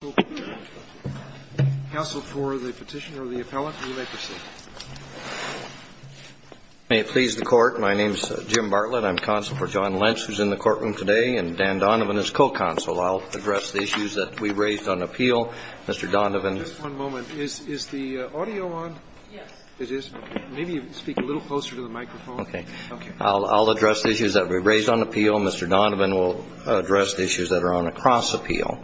is in the courtroom today, and Dan Donovan is co-counsel. I'll address the issues that we raised on appeal. Mr. Donovan. Just one moment. Is the audio on? Yes. It is? Okay. Maybe you can speak a little closer to the microphone. Okay. I'll address the issues that we raised on appeal. Mr. Donovan will address the issues that are on a cross-appeal.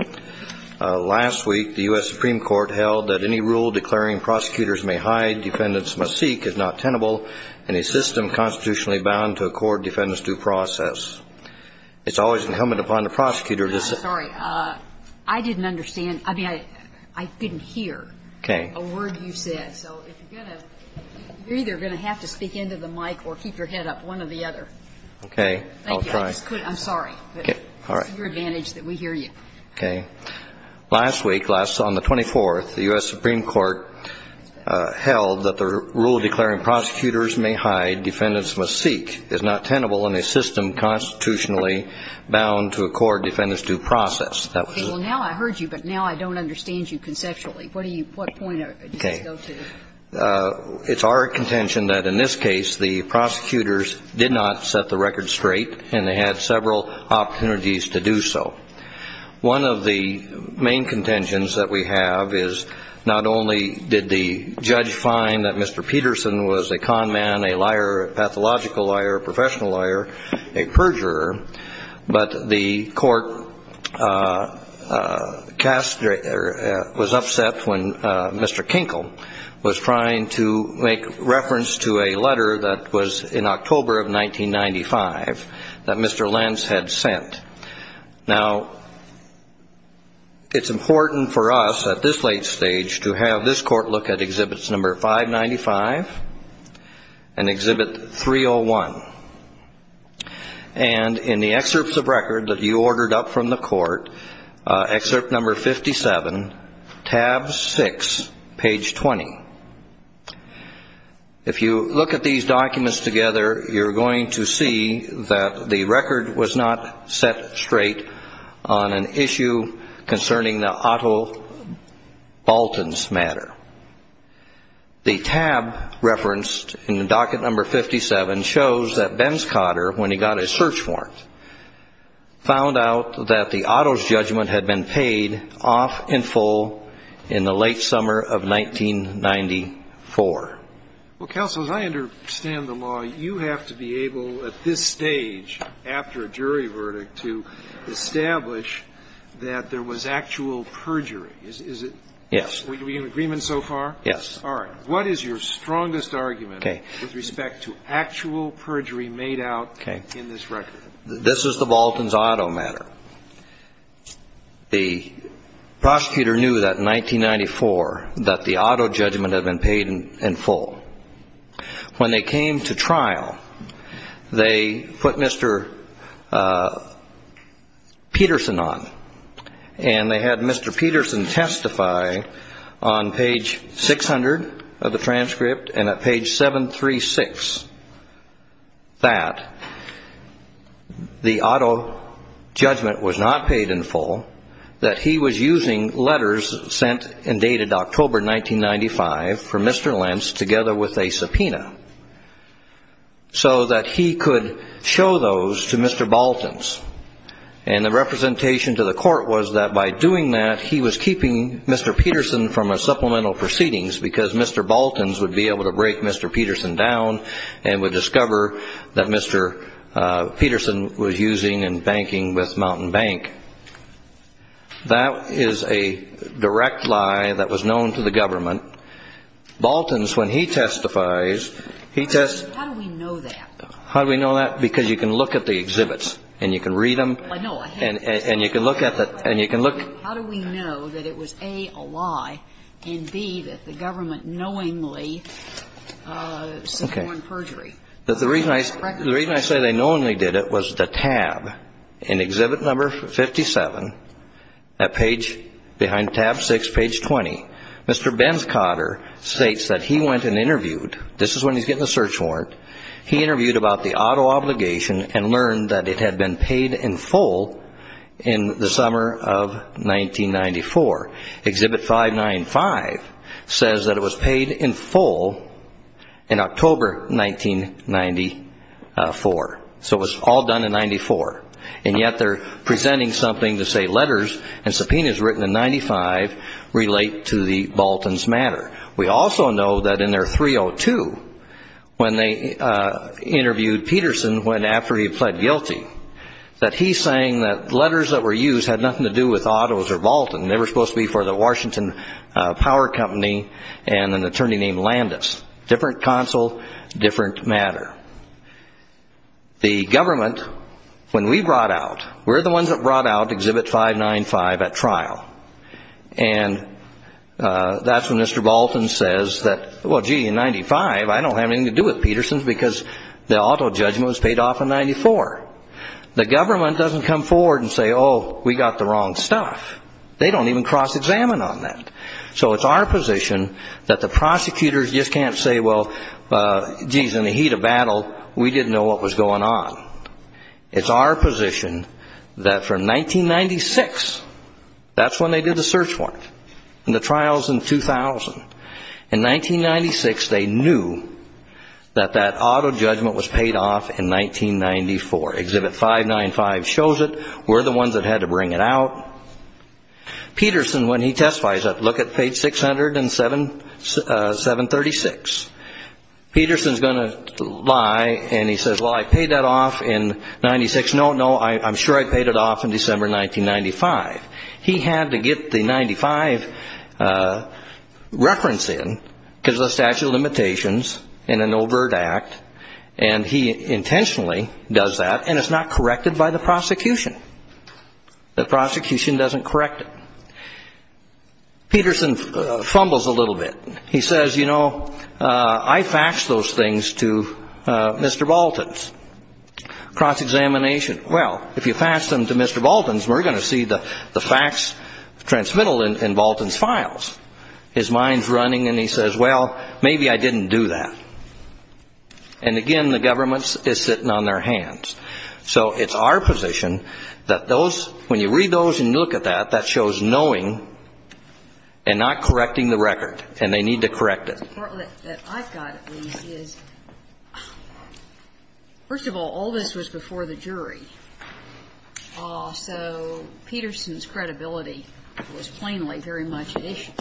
Last week, the U.S. Supreme Court held that any rule declaring prosecutors may hide, defendants must seek, is not tenable, and a system constitutionally bound to accord defendants due process. It's always incumbent upon the prosecutor to say – I'm sorry. I didn't understand. I mean, I didn't hear a word you said. Okay. So if you're going to – you're either going to have to speak into the mic or keep your head up one or the other. Okay. I'll try. Thank you. I just couldn't – I'm sorry. All right. It's to your advantage that we hear you. Okay. Last week, on the 24th, the U.S. Supreme Court held that the rule declaring prosecutors may hide, defendants must seek, is not tenable, and a system constitutionally bound to accord defendants due process. That was it. Okay. Well, now I heard you, but now I don't understand you conceptually. What do you – what point does this go to? Okay. It's our contention that in this case, the prosecutors did not set the record straight, and they had several opportunities to do so. One of the main contentions that we have is not only did the judge find that Mr. Peterson was a conman, a liar, a pathological liar, a professional liar, a perjurer, but the court cast – or was upset when Mr. Lentz had sent. Now, it's important for us at this late stage to have this court look at Exhibits No. 595 and Exhibit 301. And in the excerpts of record that you ordered up from the court, Excerpt No. 57, Tab 6, page 20. If you look at these documents together, you're going to see that the record was not set straight on an issue concerning the Otto Baltans matter. The tab referenced in the docket No. 57 shows that Ben Scotter, when he got his search warrant, found out that the Otto's judgment had been paid off in full in the late summer of 1994. Well, counsel, as I understand the law, you have to be able, at this stage, after a jury verdict, to establish that there was actual perjury. Is it? Yes. Are we in agreement so far? Yes. All right. What is your strongest argument with respect to actual perjury made out in this record? This is the Baltans-Otto matter. The prosecutor knew that in 1994 that the Otto judgment had been paid in full. When they came to trial, they put Mr. Peterson on, and they had Mr. Peterson testify on page 600 of the transcript and at page 736 that the Otto judgment was not paid in full, that he was using letters sent and dated October 1995 from Mr. Lentz together with a subpoena so that he could show those to Mr. Baltans. And the representation to the court was that by doing that, he was keeping Mr. Peterson from a supplemental proceedings because Mr. Baltans would be able to break Mr. Peterson down and would discover that Mr. Peterson was using and banking with Mountain Bank. That is a direct lie that was known to the government. Baltans, when he testifies, he testifies. How do we know that? How do we know that? Because you can look at the exhibits and you can read them and you can look at the, and you can look. How do we know that it was, A, a lie, and, B, that the government knowingly subpoenaed perjury? That the reason I say they knowingly did it was the tab in exhibit number 57, at page, behind tab 6, page 20. Mr. Benz-Cotter states that he went and interviewed, this is when he's getting a search warrant, he interviewed about the Otto obligation and learned that it had been paid in full in the summer of 1994. Exhibit 595 says that it was paid in full in October 1994. So it was all done in 94. And yet they're presenting something to say letters and subpoenas written in 95 relate to the Baltans' matter. We also know that in their 302, when they interviewed Peterson when, after he pled guilty, that he's saying that letters that were used had nothing to do with Ottos or Baltans. They were supposed to be for the Washington Power Company and an assembly council, different matter. The government, when we brought out, we're the ones that brought out exhibit 595 at trial. And that's when Mr. Baltan says, well, gee, in 95, I don't have anything to do with Petersons because the Otto judgment was paid off in 94. The government doesn't come forward and say, oh, we got the wrong stuff. They don't even cross-examine on that. So it's our position that the Otto judgment was paid off in 94. Exhibit 595 shows it. We're the ones that had to bring it out. Peterson, when he testifies, look at page 600 and 736. Peterson's going to lie and he says, well, I paid that off in 96. No, no, I'm sure I paid it off in December 1995. He had to get the 95 reference in because of the statute of limitations in an overt act, and he intentionally does that, and it's not corrected by the government. So he fumbles a little bit. He says, you know, I faxed those things to Mr. Baltan's cross-examination. Well, if you fax them to Mr. Baltan's, we're going to see the fax transmittal in Baltan's files. His mind's running and he says, well, maybe I didn't do that. And again, the government is sitting on their hands. So it's our position that those, when you read those and look at that, that shows knowing and not correcting the record, and they need to correct it. The part that I've got is, first of all, all this was before the jury. So Peterson's credibility was plainly very much at issue.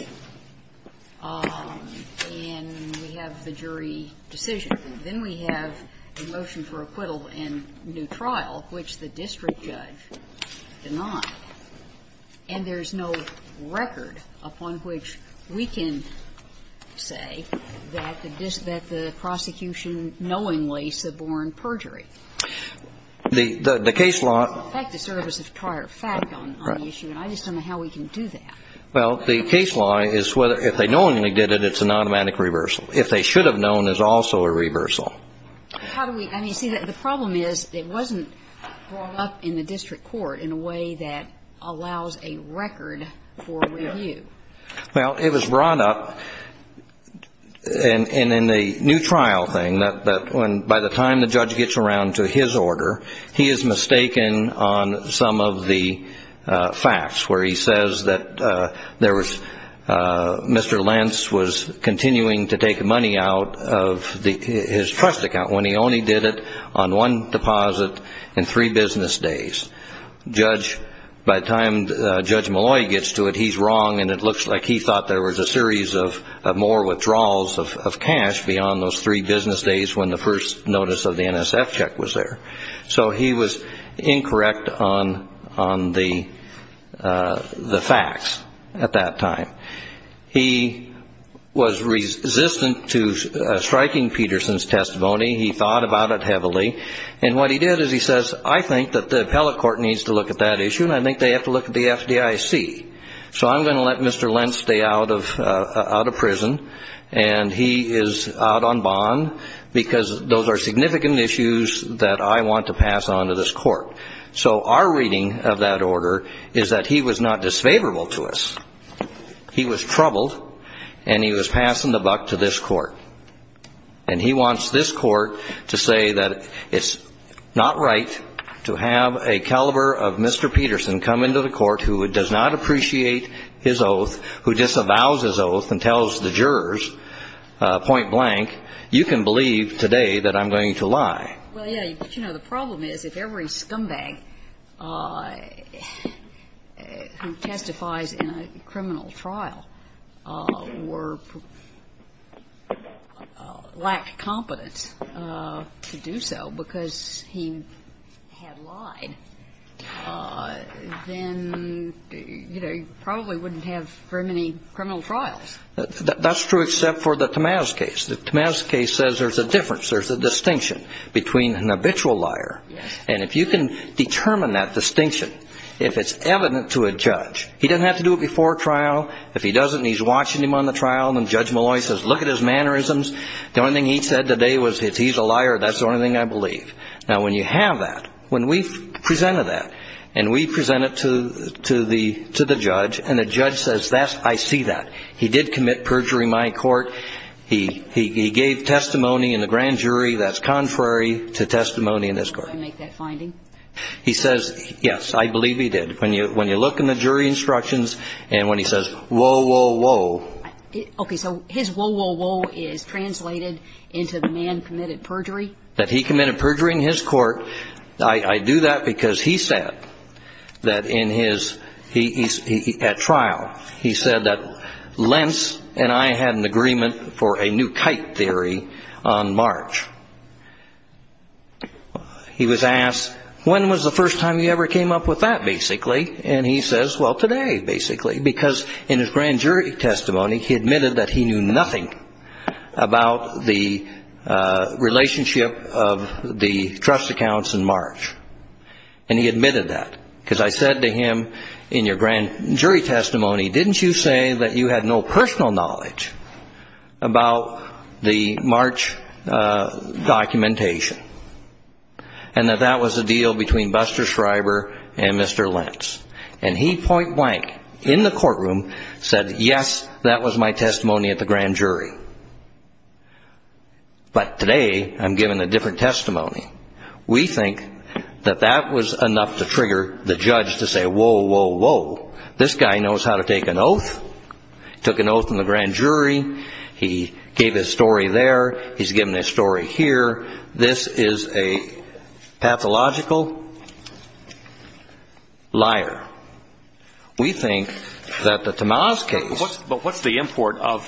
And we have the jury decision. Then we have a motion for acquittal and new trial, which the district judge denied. And there's no record upon which we can say that the prosecution knowingly suborned perjury. The case law ---- It doesn't affect the service of prior fact on the issue, and I just don't know how we can do that. Well, the case law is whether if they knowingly did it, it's an automatic reversal. If they should have known, it's also a reversal. How do we ---- I mean, see, the problem is it wasn't brought up in the district court in a way that allows a record for review. Well, it was brought up in the new trial thing that when, by the time the judge gets around to his order, he is mistaken on some of the facts, where he says that there was, Mr. Lentz was continuing to take money out of his trust account when he only did it on one deposit and three business days. Judge, by the time Judge Malloy gets to it, he's wrong and it looks like he thought there was a series of more withdrawals of cash beyond those three business days when the first notice of the NSF check was there. So he was incorrect on the facts at that time. He was resistant to striking Peterson's testimony. He thought about it heavily. And what he did is he says, I think that the appellate court needs to look at that issue and I think they have to look at the FDIC. So I'm going to let Mr. Lentz stay out of prison and he is out on bond because those are significant issues that I want to pass on to this court. So our reading of that order is that he was not disfavorable to us. He was troubled and he was passing the buck to this court. And he wants this court to say that it's not right to have a caliber of Mr. Peterson come into the court who does not appreciate his oath, who disavows his oath and tells the jurors point blank, you can believe that. So I'm going to let Mr. Lentz stay out of prison and he is out on bond because So I'm going to let Mr. Lentz stay out of prison and he wants this court to say that it's not right to have a caliber of Mr. Peterson come into the court who does not appreciate his oath, who disavows his oath and tells the jurors point blank, you can believe that. So I'm going to let Mr. Lentz stay out of prison and he is out on bond because those are significant issues that I want to pass on to this court. So I'm going to let Mr. Lentz stay out of prison and he wants this court to say that it's not right to have a caliber of Mr. Peterson come into the court who does not appreciate his oath, who disavows his oath and tells the jurors point blank, you can believe that. So I'm going to let Mr. Lentz stay out of prison and he wants this court to say that it's not right to have a caliber of Mr. Peterson come into the court who does not it's not right to have a caliber of Mr. Peterson come into the court who does not He was asked, when was the first time you ever came up with that, basically? And he says, well, today, basically, because in his grand jury testimony, he admitted that he knew nothing about the relationship of the trust accounts in March. And he admitted that, because I said to him, in your grand jury testimony, didn't you say that you had no personal knowledge about the March documentation? And that that was a deal between Buster Schreiber and Mr. Lentz. And he point blank, in the courtroom, said, yes, that was my testimony at the grand jury. But today, I'm given a different testimony. We think that that was enough to trigger the judge to say, whoa, whoa, whoa. This guy knows how to take an oath. Took an oath in the grand jury. He gave his story there. He's given his story here. This is a pathological liar. We think that the Tamaz case. But what's the import of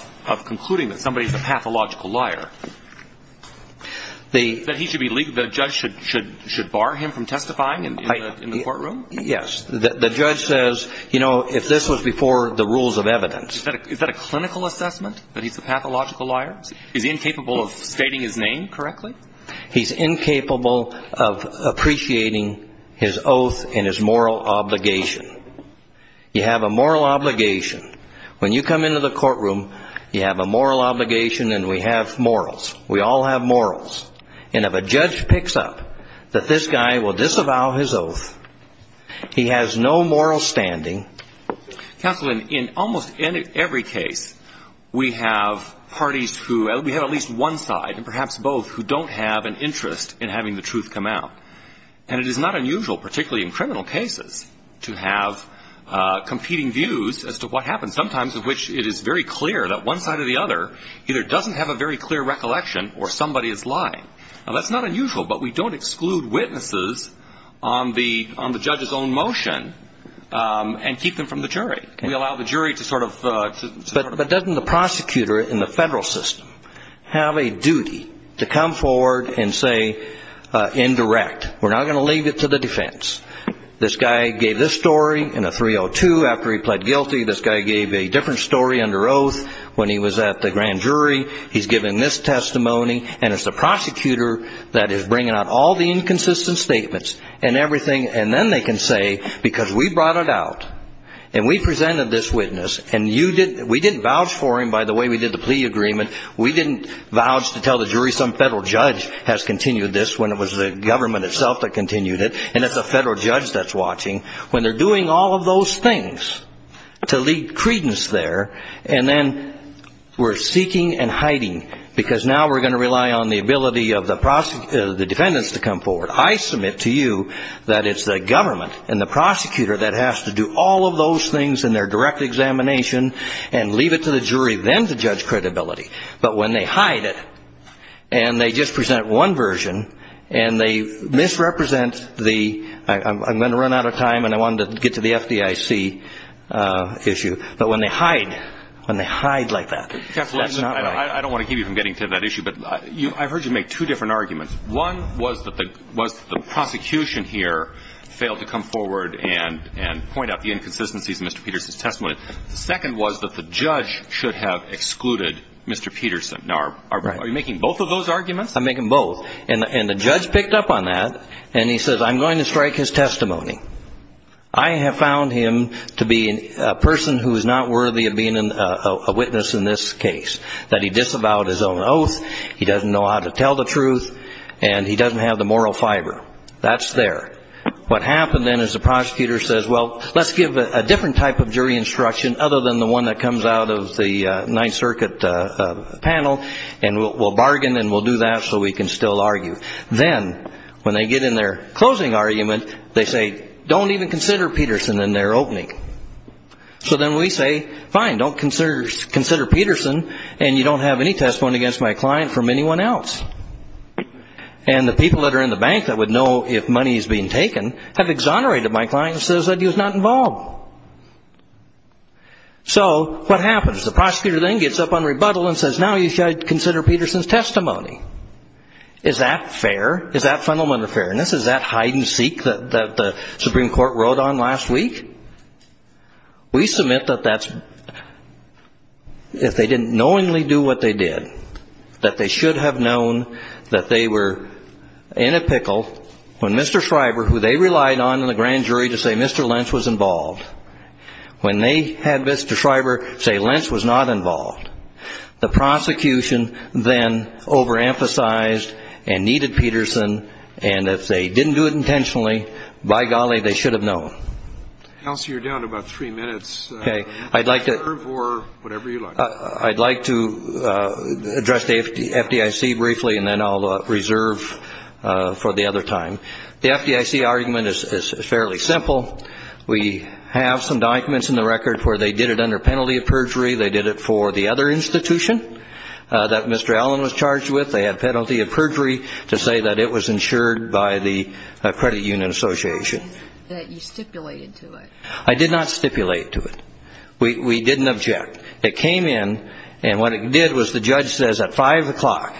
concluding that somebody's a pathological liar? That the judge should bar him from testifying in the courtroom? Yes. The judge says, you know, if this was before the rules of evidence. Is that a clinical assessment, that he's a pathological liar? He's incapable of stating his name correctly? He's incapable of appreciating his oath and his moral obligation. You have a moral obligation. When you come into the courtroom, you have a moral obligation and we have morals. We all have morals. And if a judge picks up, that this guy will disavow his oath. He has no moral standing. Counsel, in almost every case, we have parties who, we have at least one side, and perhaps both, who don't have an interest in having the truth come out. And it is not unusual, particularly in criminal cases, to have competing views as to what happens. Sometimes in which it is very clear that one side or the other either doesn't have a very clear recollection, or somebody is lying. Now, that's not unusual, but we don't exclude witnesses on the judge's own motion and keep them from the jury. We allow the jury to sort of. But doesn't the prosecutor in the federal system have a duty to come forward and say, indirect, we're not going to leave it to the defense. This guy gave this story in a 302 after he pled guilty. This guy gave a different story under oath when he was at the grand jury. He's given this testimony, and it's the prosecutor that is bringing out all the inconsistent statements and everything. And then they can say, because we brought it out, and we presented this witness, and we didn't vouch for him by the way we did the plea agreement. We didn't vouch to tell the jury some federal judge has continued this when it was the government itself that continued it, and it's a federal judge that's watching. When they're doing all of those things to leak credence there, and then we're seeking and hiding, because now we're going to rely on the ability of the defendants to come forward. I submit to you that it's the government and the prosecutor that has to do all of those things in their direct examination and leave it to the jury then to judge credibility. But when they hide it, and they just present one version, and they misrepresent the, I'm going to run out of time, and I wanted to get to the FDIC issue. But when they hide, when they hide like that, that's not right. I don't want to keep you from getting to that issue, but I've heard you make two different arguments. One was that the prosecution here failed to come forward and point out the inconsistencies in Mr. Peterson's testimony. The second was that the judge should have excluded Mr. Peterson. Now, are you making both of those arguments? I'm making both, and the judge picked up on that, and he says, I'm going to strike his testimony. I have found him to be a person who is not worthy of being a witness in this case, that he disavowed his own oath, he doesn't know how to tell the truth, and he doesn't have the moral fiber. That's there. What happened then is the prosecutor says, well, let's give a different type of jury instruction other than the one that comes out of the Ninth Circuit panel, and we'll bargain and we'll do that so we can still argue. Then when they get in their closing argument, they say, don't even consider Peterson in their opening. So then we say, fine, don't consider Peterson, and you don't have any testimony against my client from anyone else. And the people that are in the bank that would know if money is being taken have exonerated my client and said he was not involved. So what happens? The prosecutor then gets up on rebuttal and says, now you should consider Peterson's testimony. Is that fair? Is that fundamental fairness? Is that hide-and-seek that the Supreme Court wrote on last week? We submit that if they didn't knowingly do what they did, that they should have known that they were in a pickle when Mr. Schreiber, who they relied on in the grand jury to say Mr. Lynch was involved, when they had Mr. Schreiber say Lynch was not involved, the prosecution then overemphasized and needed Peterson, and if they didn't do it intentionally, by golly, they should have known. I'd like to address the FDIC briefly, and then I'll reserve for the other time. The FDIC argument is fairly simple. We have some documents in the record where they did it under penalty of perjury. They did it for the other institution that Mr. Allen was charged with. They had penalty of perjury to say that it was insured by the Credit Union Association. I did not stipulate to it. We didn't object. It came in, and what it did was the judge says at 5 o'clock,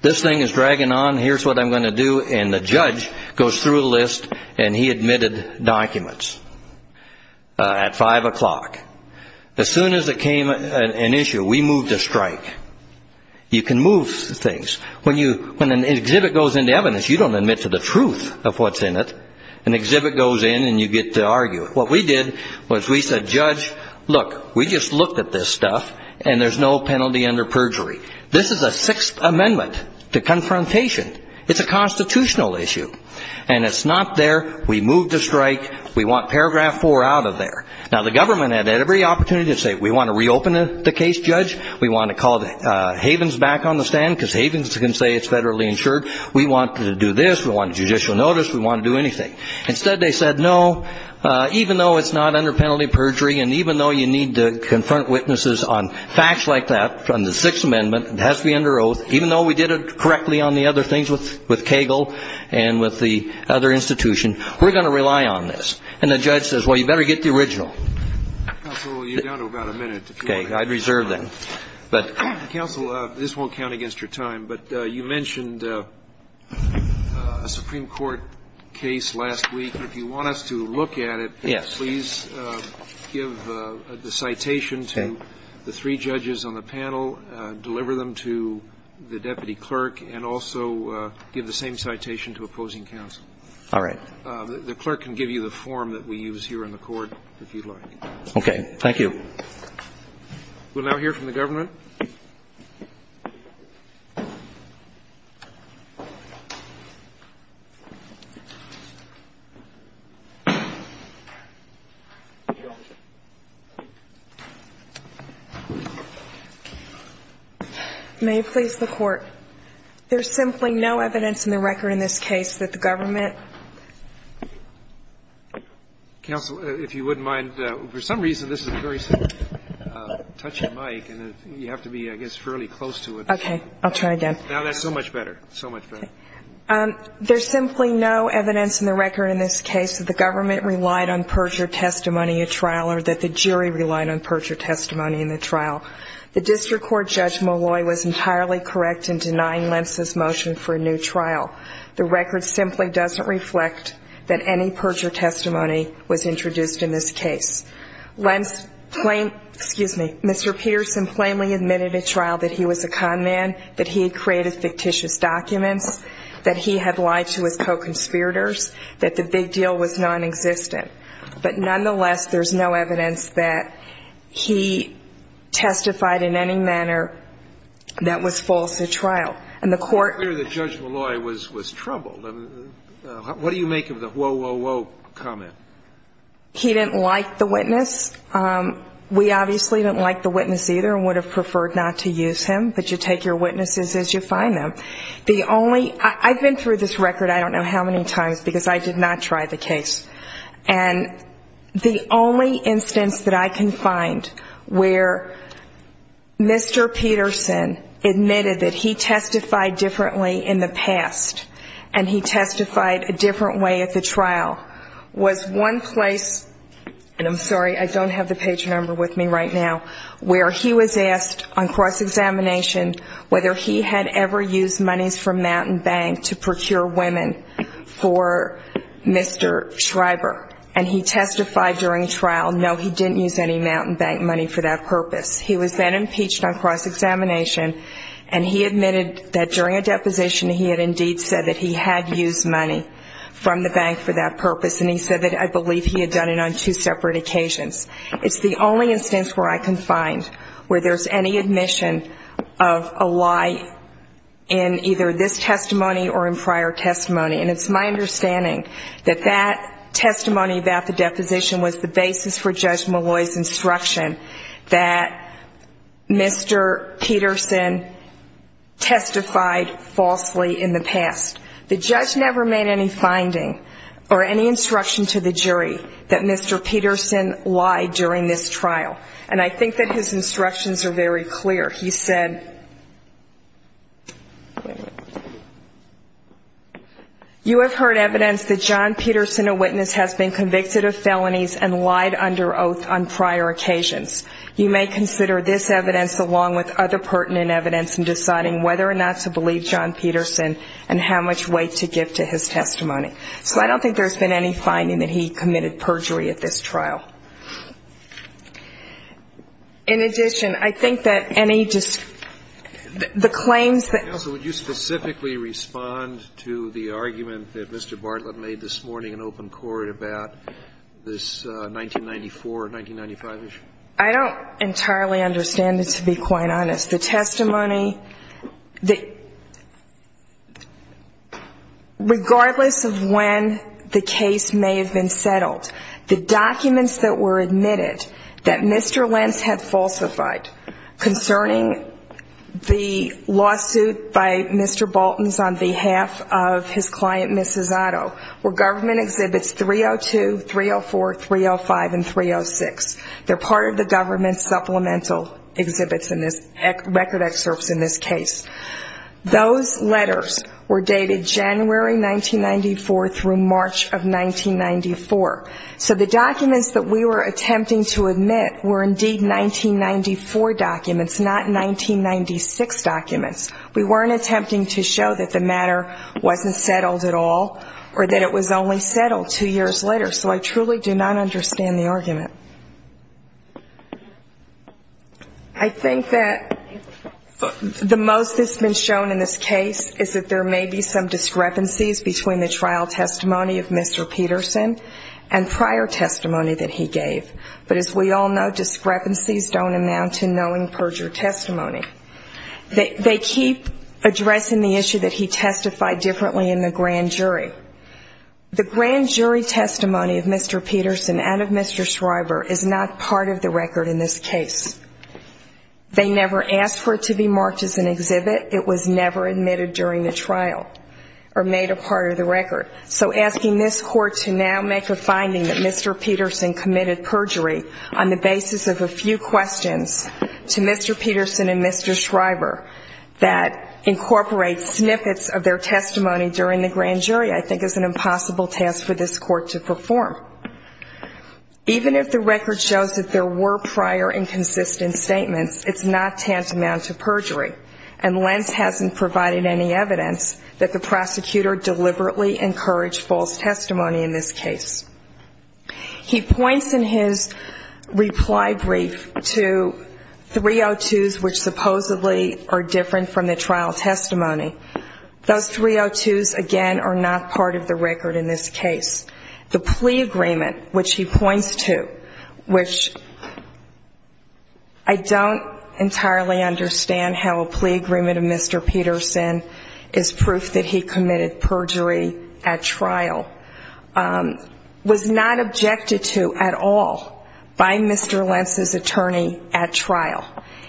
this thing is dragging on, here's what I'm going to do, and the judge goes through the list, and he admitted documents at 5 o'clock. As soon as it came an issue, we moved a strike. You can move things. When an exhibit goes into evidence, you don't admit to the truth of what's in it. An exhibit goes in, and you get to argue it. What we did was we said, judge, look, we just looked at this stuff, and there's no penalty under perjury. This is a Sixth Amendment to confrontation. It's a constitutional issue, and it's not there. We moved a strike. We want paragraph 4 out of there. Now, the government had every opportunity to say, we want to reopen the case, judge. We want to call Havens back on the stand, because Havens can say it's federally insured. We want to do this. We want judicial notice. We want to do anything. Instead, they said, no, even though it's not under penalty of perjury, and even though you need to confront witnesses on facts like that from the Sixth Amendment, it has to be under oath, even though we did it correctly on the other things with Cagle and with the other institution, we're going to rely on this. And the judge says, well, you better get the original. I'm sorry. Counsel, this won't count against your time, but you mentioned a Supreme Court case last week. If you want us to look at it, please give the citation to the three judges on the panel, deliver them to the deputy clerk, and also give the same citation to opposing counsel. All right. The clerk can give you the form that we use here in the court, if you'd like. Okay. Thank you. We'll now hear from the government. May it please the Court. There's simply no evidence in the record in this case that the government Counsel, if you wouldn't mind, for some reason, this is a very touchy mic, and you have to be, I guess, fairly close to it. Okay. I'll try again. No, that's so much better. So much better. There's simply no evidence in the record in this case that the government relied on perjury testimony at trial or that the jury relied on perjury testimony in the trial. The District Court Judge Molloy was entirely correct in denying Lentz's motion for a new trial. The record simply doesn't reflect that any perjury testimony was introduced in this case. Lentz plainly, excuse me, Mr. Peterson plainly admitted at trial that he was a con man, that he had created fictitious documents, that he had lied to his co-conspirators, that the big deal was nonexistent. But nonetheless, there's no evidence that he testified in any manner that was false at trial. And the court ---- It's clear that Judge Molloy was troubled. What do you make of the whoa, whoa, whoa comment? He didn't like the witness. We obviously didn't like the witness either and would have preferred not to use him. But you take your witnesses as you find them. The only ---- I've been through this record I don't know how many times because I did not try the case. And the only instance that I can find where Mr. Peterson admitted that he testified differently in the past and he testified a different way at the trial was one place, and I'm sorry, I don't have the page number with me right now, where he was asked on cross-examination whether he had ever used monies from Mountain Bank to procure women for Mr. Schreiber. And he testified during trial, no, he didn't use any Mountain Bank money for that purpose. He was then impeached on cross-examination, and he admitted that during a deposition he had indeed said that he had used money from the bank for that purpose. And he said that I believe he had done it on two separate occasions. It's the only instance where I can find where there's any admission of a lie in either this testimony or in prior testimony. And it's my understanding that that testimony about the deposition was the basis for Judge Malloy's instruction that Mr. Peterson testified falsely in the past. The judge never made any finding or any instruction to the jury that Mr. Peterson lied during this trial. And I think that his instructions are very clear. He said, you have heard evidence that John Peterson, a witness, has been convicted of felonies and lied under oath on prior occasions. You may consider this evidence along with other pertinent evidence in deciding whether or not to believe John Peterson and how much weight to give to his testimony. So I don't think there's been any finding that he committed perjury at this trial. In addition, I think that any just the claims that Counsel, would you specifically respond to the argument that Mr. Bartlett made this morning in open court about this 1994, 1995 issue? I don't entirely understand it, to be quite honest. The testimony, regardless of when the case may have been settled, the documents that were admitted that Mr. Lentz had falsified concerning the lawsuit by Mr. Bolton's on behalf of his client, Mrs. Otto, were government exhibits 302, 304, 305, and 306. They're part of the government supplemental exhibits in this record excerpts in this case. Those letters were dated January 1994 through March of 1994. So the documents that we were attempting to admit were indeed 1994 documents, not 1996 documents. We weren't attempting to show that the matter wasn't settled at all or that it was only settled two years later. So I truly do not understand the argument. I think that the most that's been shown in this case is that there may be some discrepancies between the trial testimony of Mr. Peterson and prior testimony that he gave. But as we all know, discrepancies don't amount to knowing perjury testimony. They keep addressing the issue that he testified differently in the grand jury. The grand jury testimony of Mr. Peterson and of Mr. Schreiber is not part of the record in this case. They never asked for it to be marked as an exhibit. It was never admitted during the trial or made a part of the record. So asking this court to now make a finding that Mr. Peterson committed perjury on the basis of a few questions to Mr. Peterson and Mr. Schreiber that incorporates snippets of their testimony during the grand jury, I think is an impossible task for this court to perform. Even if the record shows that there were prior and consistent statements, it's not tantamount to perjury. And Lentz hasn't provided any evidence that the prosecutor deliberately encouraged false testimony in this case. He points in his reply brief to 302s which supposedly are different from the trial testimony. Those 302s, again, are not part of the record in this case. The plea agreement which he points to, which I don't entirely understand how a plea agreement of Mr. Peterson is proof that he committed perjury at trial, was not objected to at all by Mr. Lentz's attorney at trial.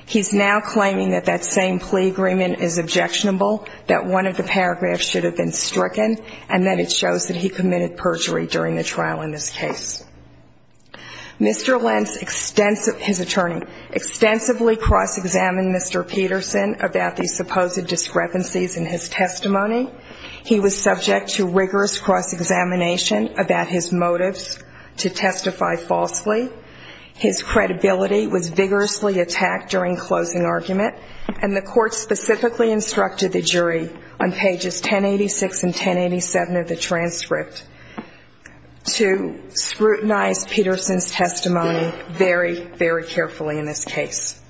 He's now claiming that that same plea agreement is objectionable, that one of the paragraphs should have been stricken, and that it shows that he committed perjury during the trial in this case. Mr. Lentz's attorney extensively cross-examined Mr. Peterson about the supposed discrepancies in his testimony. He was subject to rigorous cross-examination about his motives to testify falsely. His credibility was vigorously attacked during closing argument, and the court specifically instructed the jury on pages 1086 and 1087 of the transcript to scrutinize Peterson's testimony very, very carefully in this case.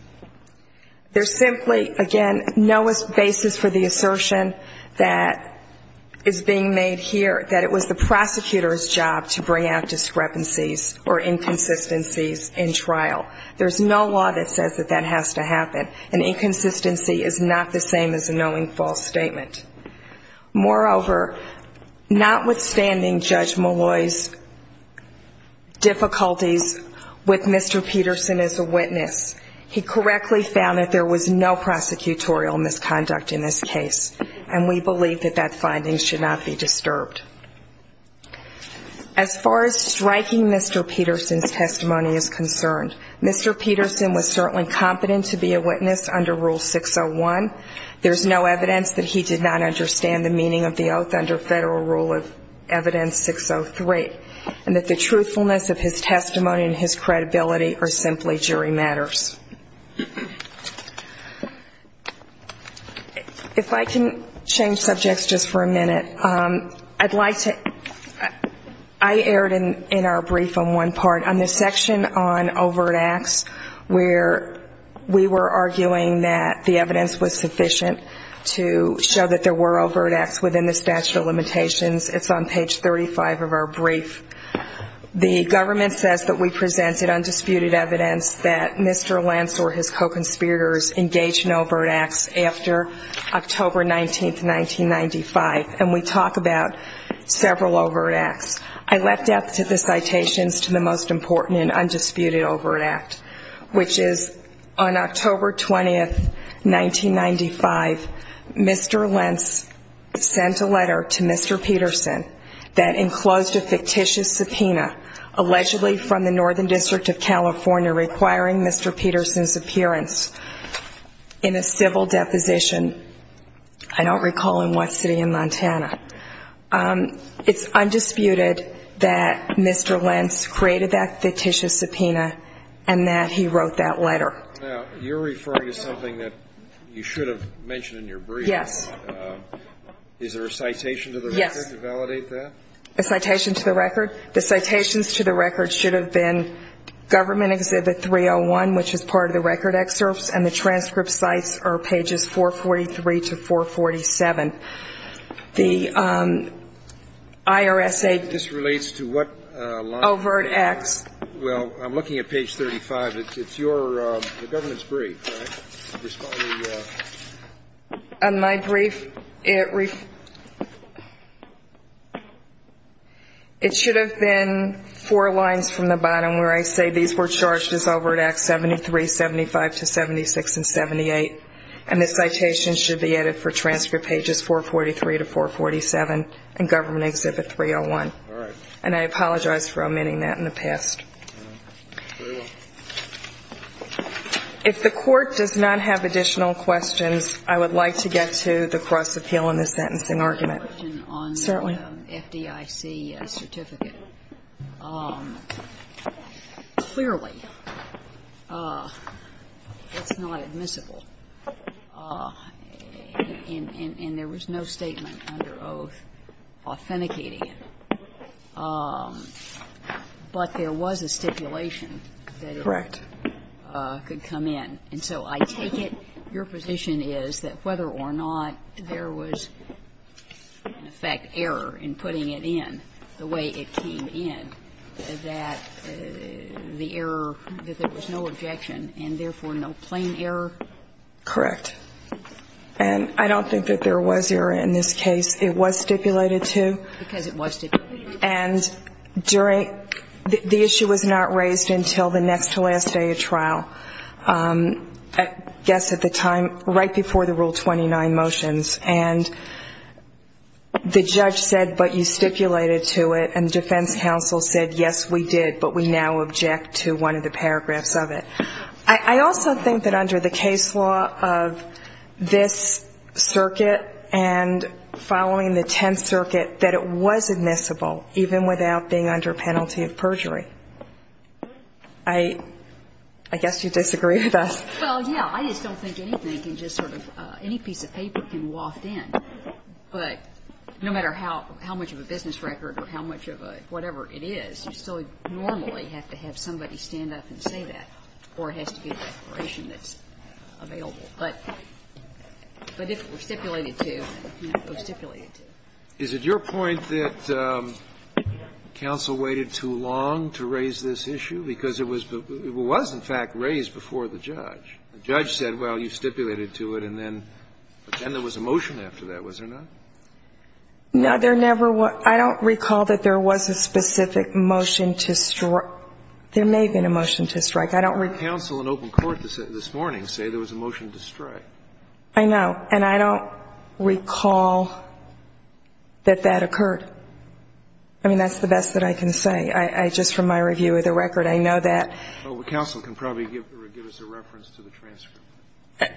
There's simply, again, no basis for the assertion that is being made here that it was the prosecutor's job to bring out inconsistencies in trial. There's no law that says that that has to happen, and inconsistency is not the same as a knowing false statement. Moreover, notwithstanding Judge Malloy's difficulties with Mr. Peterson as a witness, he correctly found that there was no prosecutorial misconduct in this case, and we believe that that finding should not be disturbed. As far as striking Mr. Peterson's testimony is concerned, Mr. Peterson was certainly competent to be a witness under Rule 601. There's no evidence that he did not understand the meaning of the oath under Federal Rule of Evidence 603, and that the truthfulness of his testimony and his credibility are simply jury matters. If I can change subjects just for a minute, I'd like to ‑‑ I erred in our brief on one part. On the section on overt acts, where we were arguing that the evidence was sufficient to show that there were overt acts within the statute of limitations, it's on page 35 of our brief, the government says that we presented undisputed evidence that Mr. Lentz or his co‑conspirators engaged in overt acts after October 19, 1995, and we talk about several overt acts. I left out the citations to the most important and undisputed overt act, which is on October 20, 1995, Mr. Lentz sent a letter to Mr. Peterson that enclosed a fictitious subpoena, allegedly from the Northern District of California, requiring Mr. Peterson's appearance in a civil deposition, I don't recall in what city in Montana. It's undisputed that Mr. Lentz created that fictitious subpoena and that he wrote that letter. Now, you're referring to something that you should have mentioned in your brief. Yes. Is there a citation to the record to validate that? Yes. A citation to the record? The citations to the record should have been government exhibit 301, which is part of the record excerpts, and the transcript sites are pages 443 to 447. The IRSA ‑‑ This relates to what ‑‑ Overt acts. Well, I'm looking at page 35. It's your ‑‑ the government's brief, right? On my brief, it should have been four lines from the bottom where I say these were charged as overt acts 73, 75 to 76 and 78, and the citations should be added for transcript pages 443 to 447 and government exhibit 301. And I apologize for omitting that in the past. If the Court does not have additional questions, I would like to get to the cross-appeal in the sentencing argument. Certainly. On the FDIC certificate. Clearly, it's not admissible, and there was no statement under oath authenticating it. But there was a stipulation that it ‑‑ Correct. ‑‑could come in. And so I take it your position is that whether or not there was, in effect, error in putting it in the way it came in, that the error, that there was no objection and, therefore, no plain error? Correct. And I don't think that there was error in this case. It was stipulated to. Because it was stipulated. And during ‑‑ the issue was not raised until the next to last day of trial. I guess at the time, right before the Rule 29 motions. And the judge said, but you stipulated to it, and the defense counsel said, yes, we did, but we now object to one of the paragraphs of it. I also think that under the case law of this circuit and following the Tenth Circuit, that it was admissible, even without being under penalty of perjury. I guess you disagree with us. Well, yeah. I just don't think anything can just sort of ‑‑ any piece of paper can waft in. But no matter how much of a business record or how much of a whatever it is, you still normally have to have somebody stand up and say that, or it has to be a declaration that's available. But if it was stipulated to, it was stipulated to. Is it your point that counsel waited too long to raise this issue? Because it was in fact raised before the judge. The judge said, well, you stipulated to it, and then there was a motion after that, was there not? No, there never was. I don't recall that there was a specific motion to ‑‑ there may have been a motion to strike. I don't ‑‑ But counsel in open court this morning said there was a motion to strike. I know. And I don't recall that that occurred. I mean, that's the best that I can say. I just, from my review of the record, I know that ‑‑ Well, counsel can probably give us a reference to the transcript.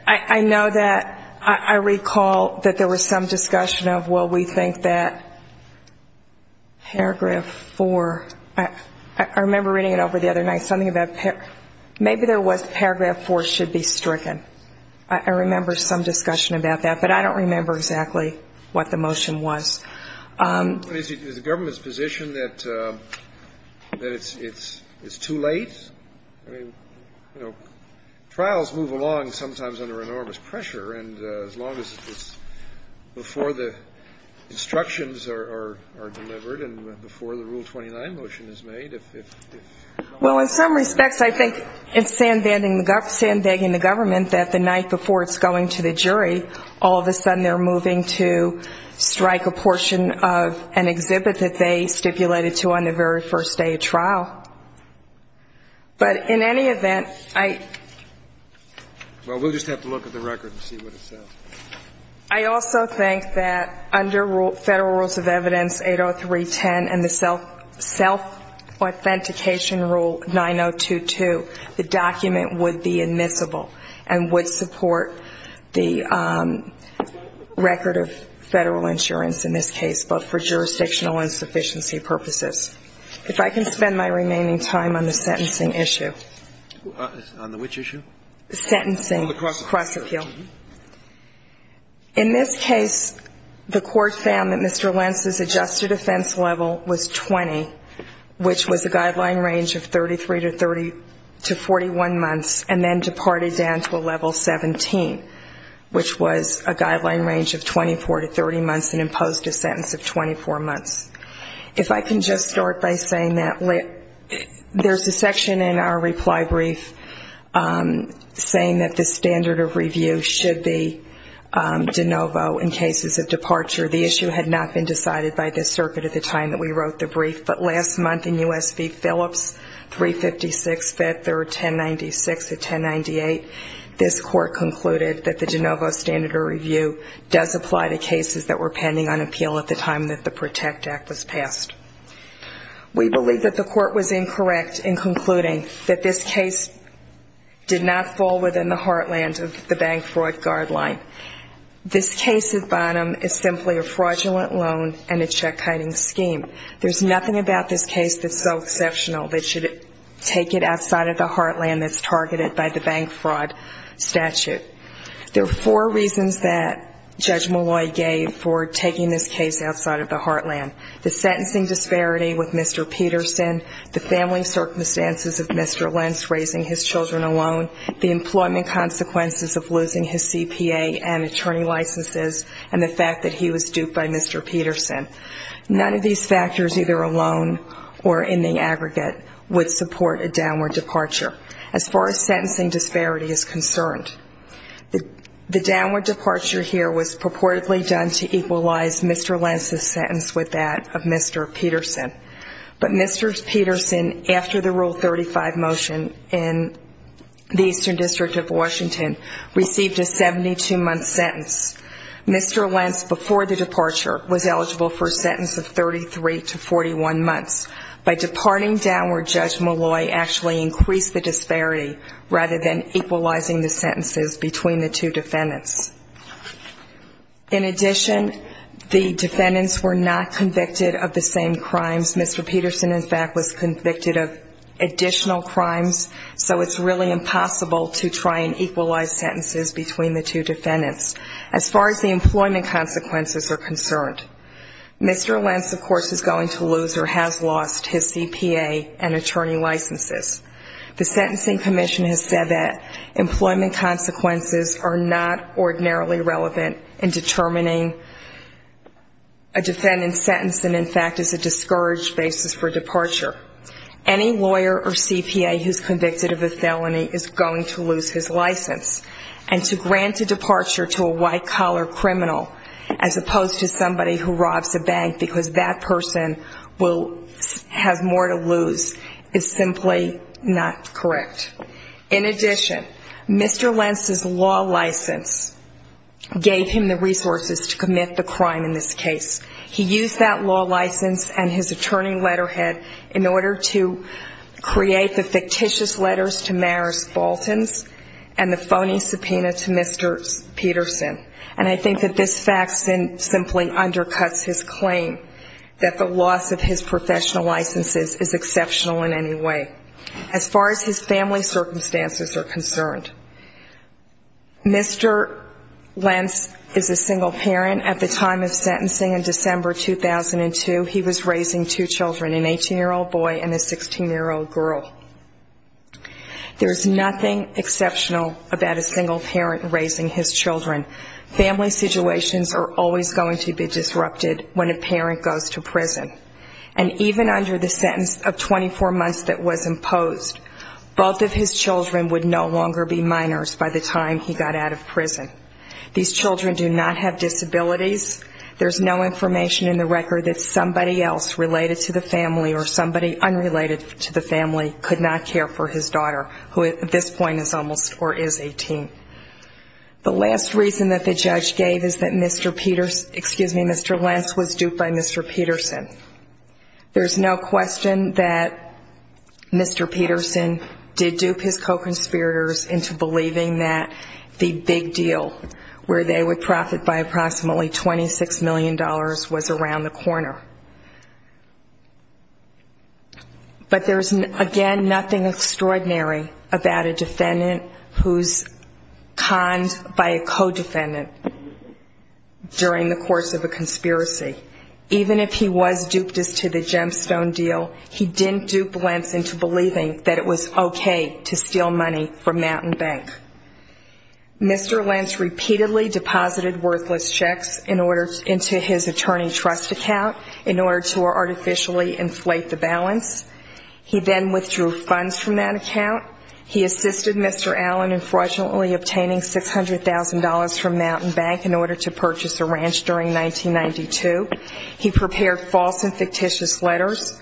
I know that ‑‑ I recall that there was some discussion of, well, we think that paragraph 4 ‑‑ I remember reading it over the other night, something about maybe there was paragraph 4 should be stricken. I remember some discussion about that. But I don't remember exactly what the motion was. Is the government's position that it's too late? I mean, you know, trials move along sometimes under enormous pressure, and as long as it's before the instructions are delivered and before the Rule 29 motion is made, if ‑‑ Well, in some respects, I think it's sandbagging the government that the night before it's going to the jury, all of a sudden they're moving to strike a portion of an exhibit that they stipulated to on the very first day of trial. But in any event, I ‑‑ Well, we'll just have to look at the record and see what it says. I also think that under Federal Rules of Evidence 803.10 and the self authentication Rule 902.2, the document would be admissible and would support the record of federal insurance in this case, but for jurisdictional insufficiency purposes. If I can spend my remaining time on the sentencing issue. On the which issue? Sentencing. On the cross appeal. Cross appeal. In this case, the Court found that Mr. Lentz's adjusted offense level was 20, which was a guideline range of 33 to 30 to 41 months, and then departed down to a level 17, which was a guideline range of 24 to 30 months and imposed a sentence of 24 months. If I can just start by saying that there's a section in our reply brief saying that the standard of review should be de novo in cases of departure. The issue had not been decided by this circuit at the time that we wrote the brief, but last month in U.S. v. Phillips 356, 5th or 1096 to 1098, this case did not fall within the heartland of the bank fraud guideline. This case at bottom is simply a fraudulent loan and a check hiding scheme. There's nothing about this case that's so exceptional that should take it outside of the heartland that's targeted by the bank fraud statute. There are four reasons that Judge Malloy gave for taking this case to the heartland, the sentencing disparity with Mr. Peterson, the family circumstances of Mr. Lentz raising his children alone, the employment consequences of losing his CPA and attorney licenses, and the fact that he was duped by Mr. Peterson. None of these factors, either alone or in the aggregate, would support a downward departure as far as sentencing disparity is concerned. The downward departure here was purportedly done to equalize Mr. Lentz's sentence with that of Mr. Peterson. But Mr. Peterson, after the Rule 35 motion in the Eastern District of Washington, received a 72-month sentence. Mr. Lentz, before the departure, was eligible for a sentence of 33 to 41 months. By departing downward, Judge Malloy actually increased the disparity rather than equalizing the sentences between the two defendants. In addition, the defendants were not convicted of the same crimes. Mr. Peterson, in fact, was convicted of additional crimes, so it's really impossible to try and equalize sentences between the two defendants as far as the employment consequences are concerned. Mr. Lentz, of course, is going to lose or has lost his CPA and attorney licenses. The Sentencing Commission has said that employment consequences are not ordinarily relevant in determining a defendant's sentence and, in fact, is a discouraged basis for departure. Any lawyer or CPA who's convicted of a felony is going to lose his license. And to grant a departure to a white-collar criminal as opposed to somebody who robs a bank because that person will have more to lose is simply not correct. In addition, Mr. Lentz's law license gave him the resources to commit the crime in this case. He used that law license and his attorney letterhead in order to create the fictitious letters to Maris Baltans and the phony subpoena to Mr. Peterson. And I think that this fact simply undercuts his claim that the loss of his family circumstances are concerned. Mr. Lentz is a single parent. At the time of sentencing in December 2002, he was raising two children, an 18-year-old boy and a 16-year-old girl. There's nothing exceptional about a single parent raising his children. Family situations are always going to be disrupted when a parent goes to prison. And even under the sentence of 24 months that was imposed, both of his children would no longer be minors by the time he got out of prison. These children do not have disabilities. There's no information in the record that somebody else related to the family or somebody unrelated to the family could not care for his daughter, who at this point is almost or is 18. The last reason that the judge gave is that Mr. Peterson, excuse me, Mr. Peterson, there's no question that Mr. Peterson did dupe his co-conspirators into believing that the big deal where they would profit by approximately $26 million was around the corner. But there's, again, nothing extraordinary about a defendant who's conned by a co-defendant during the course of a conspiracy. Even if he was duped as to the gemstone deal, he didn't dupe Lentz into believing that it was okay to steal money from Mountain Bank. Mr. Lentz repeatedly deposited worthless checks into his attorney trust account in order to artificially inflate the balance. He then withdrew funds from that account. He assisted Mr. Allen in fraudulently obtaining $600,000 from Mountain Bank in 1992. He prepared false and fictitious letters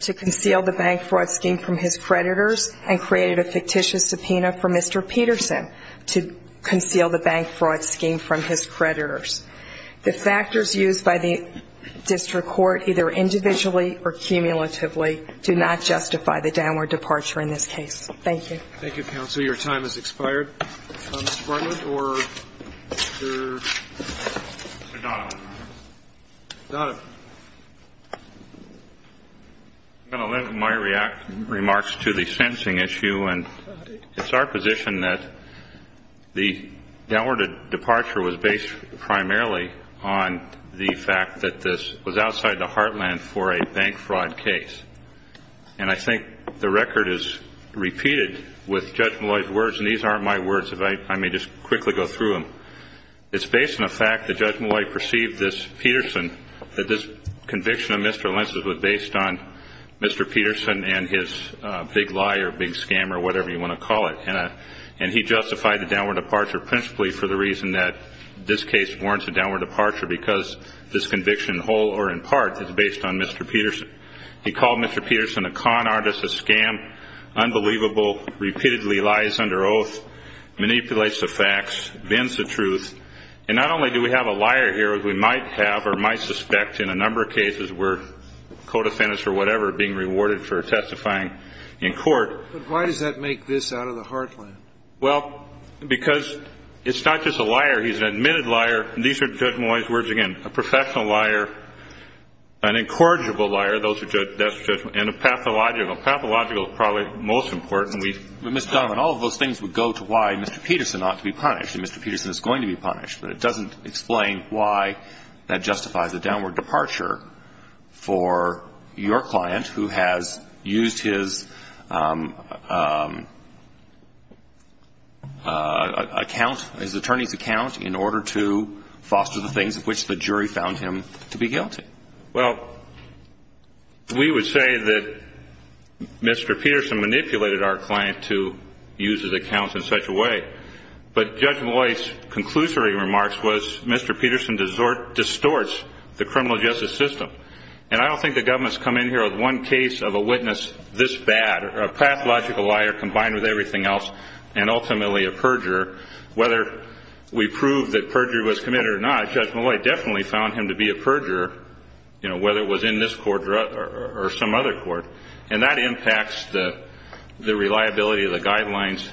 to conceal the bank fraud scheme from his creditors and created a fictitious subpoena for Mr. Peterson to conceal the bank fraud scheme from his creditors. The factors used by the district court, either individually or cumulatively, do not justify the downward departure in this case. Thank you. Thank you, counsel. Your time has expired. Mr. Bartlett or Mr. Donovan? Donovan. I'm going to lend my remarks to the sentencing issue. And it's our position that the downward departure was based primarily on the fact that this was outside the heartland for a bank fraud case. And I think the record is repeated with Judge Malloy's words. And these aren't my words. If I may just quickly go through them. It's based on the fact that Judge Malloy perceived this Peterson, that this conviction of Mr. Lentz was based on Mr. Peterson and his big lie or big scam or whatever you want to call it. And he justified the downward departure principally for the reason that this case warrants a downward departure because this conviction, whole or in part, is based on Mr. Peterson. He called Mr. Peterson a con artist, a scam, unbelievable, repeatedly lies under oath, manipulates the facts, bends the truth. And not only do we have a liar here, as we might have or might suspect in a number of cases where co-defendants or whatever are being rewarded for testifying in court. But why does that make this out of the heartland? Well, because it's not just a liar. He's an admitted liar. And these are Judge Malloy's words again, a professional liar, an incorrigible liar, and a pathological. Pathological is probably most important. Mr. Donovan, all of those things would go to why Mr. Peterson ought to be punished. And Mr. Peterson is going to be punished. But it doesn't explain why that justifies a downward departure for your client who has used his account, his attorney's account, in order to foster the things of which the jury found him to be guilty. Well, we would say that Mr. Peterson manipulated our client to use his account in such a way. But Judge Malloy's conclusory remarks was Mr. Peterson distorts the criminal justice system. And I don't think the government has come in here with one case of a witness this bad, a pathological liar combined with everything else, and ultimately a perjurer. Whether we prove that perjury was committed or not, Judge Malloy definitely found him to be a perjurer, you know, whether it was in this court or some other court. And that impacts the reliability of the guidelines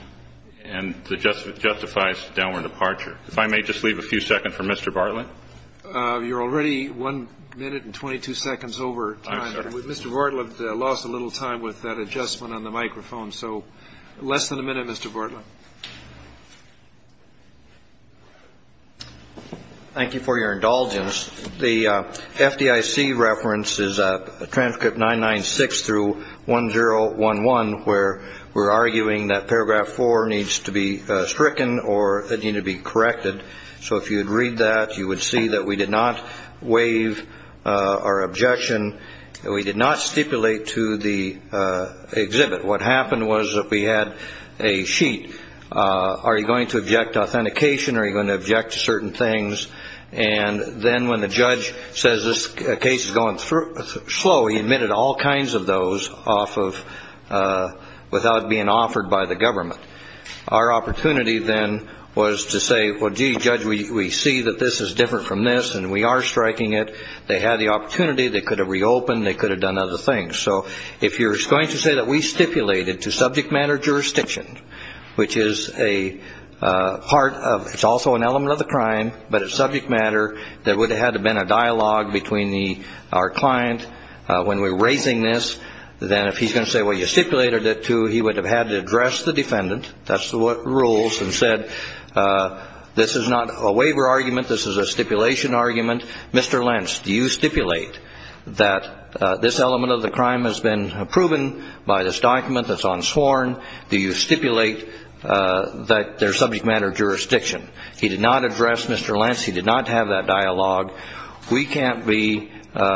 and justifies downward departure. If I may just leave a few seconds for Mr. Bartlett. You're already one minute and 22 seconds over time. I'm sorry. Mr. Bartlett lost a little time with that adjustment on the microphone. So less than a minute, Mr. Bartlett. Thank you for your indulgence. The FDIC reference is a transcript 996 through 1011, where we're arguing that paragraph four needs to be stricken or that need to be corrected. So if you'd read that, you would see that we did not waive our objection. We did not stipulate to the exhibit. What happened was that we had a sheet. Are you going to object to authentication? Are you going to object to certain things? And then when the judge says this case is going slow, he admitted all kinds of those without being offered by the government. Our opportunity then was to say, well, gee, Judge, we see that this is different from this, and we are striking it. They had the opportunity. They could have reopened. They could have done other things. So if you're going to say that we stipulated to subject matter jurisdiction, which is a part of it's also an element of the crime, but it's subject matter, there would have had to have been a dialogue between our client when we were raising this. Then if he's going to say, well, you stipulated it to, he would have had to address the defendant. That's what rules and said this is not a waiver argument. This is a stipulation argument. Mr. Lentz, do you stipulate that this element of the crime has been proven by this document that's on sworn? Do you stipulate that there's subject matter jurisdiction? He did not address Mr. Lentz. He did not have that dialogue. We can't be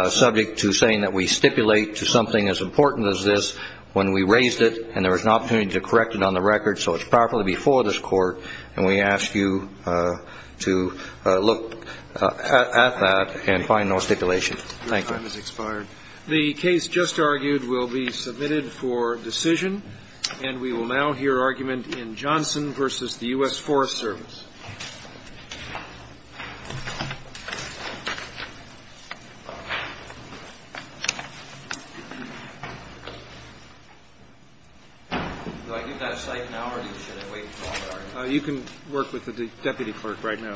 subject to saying that we stipulate to something as important as this when we raised it and there was an opportunity to correct it on the record so it's properly before this court, and we ask you to look at that and find no stipulation. Thank you. Your time has expired. The case just argued will be submitted for decision. And we will now hear argument in Johnson v. the U.S. Forest Service. You can work with the deputy clerk right now. Thank you.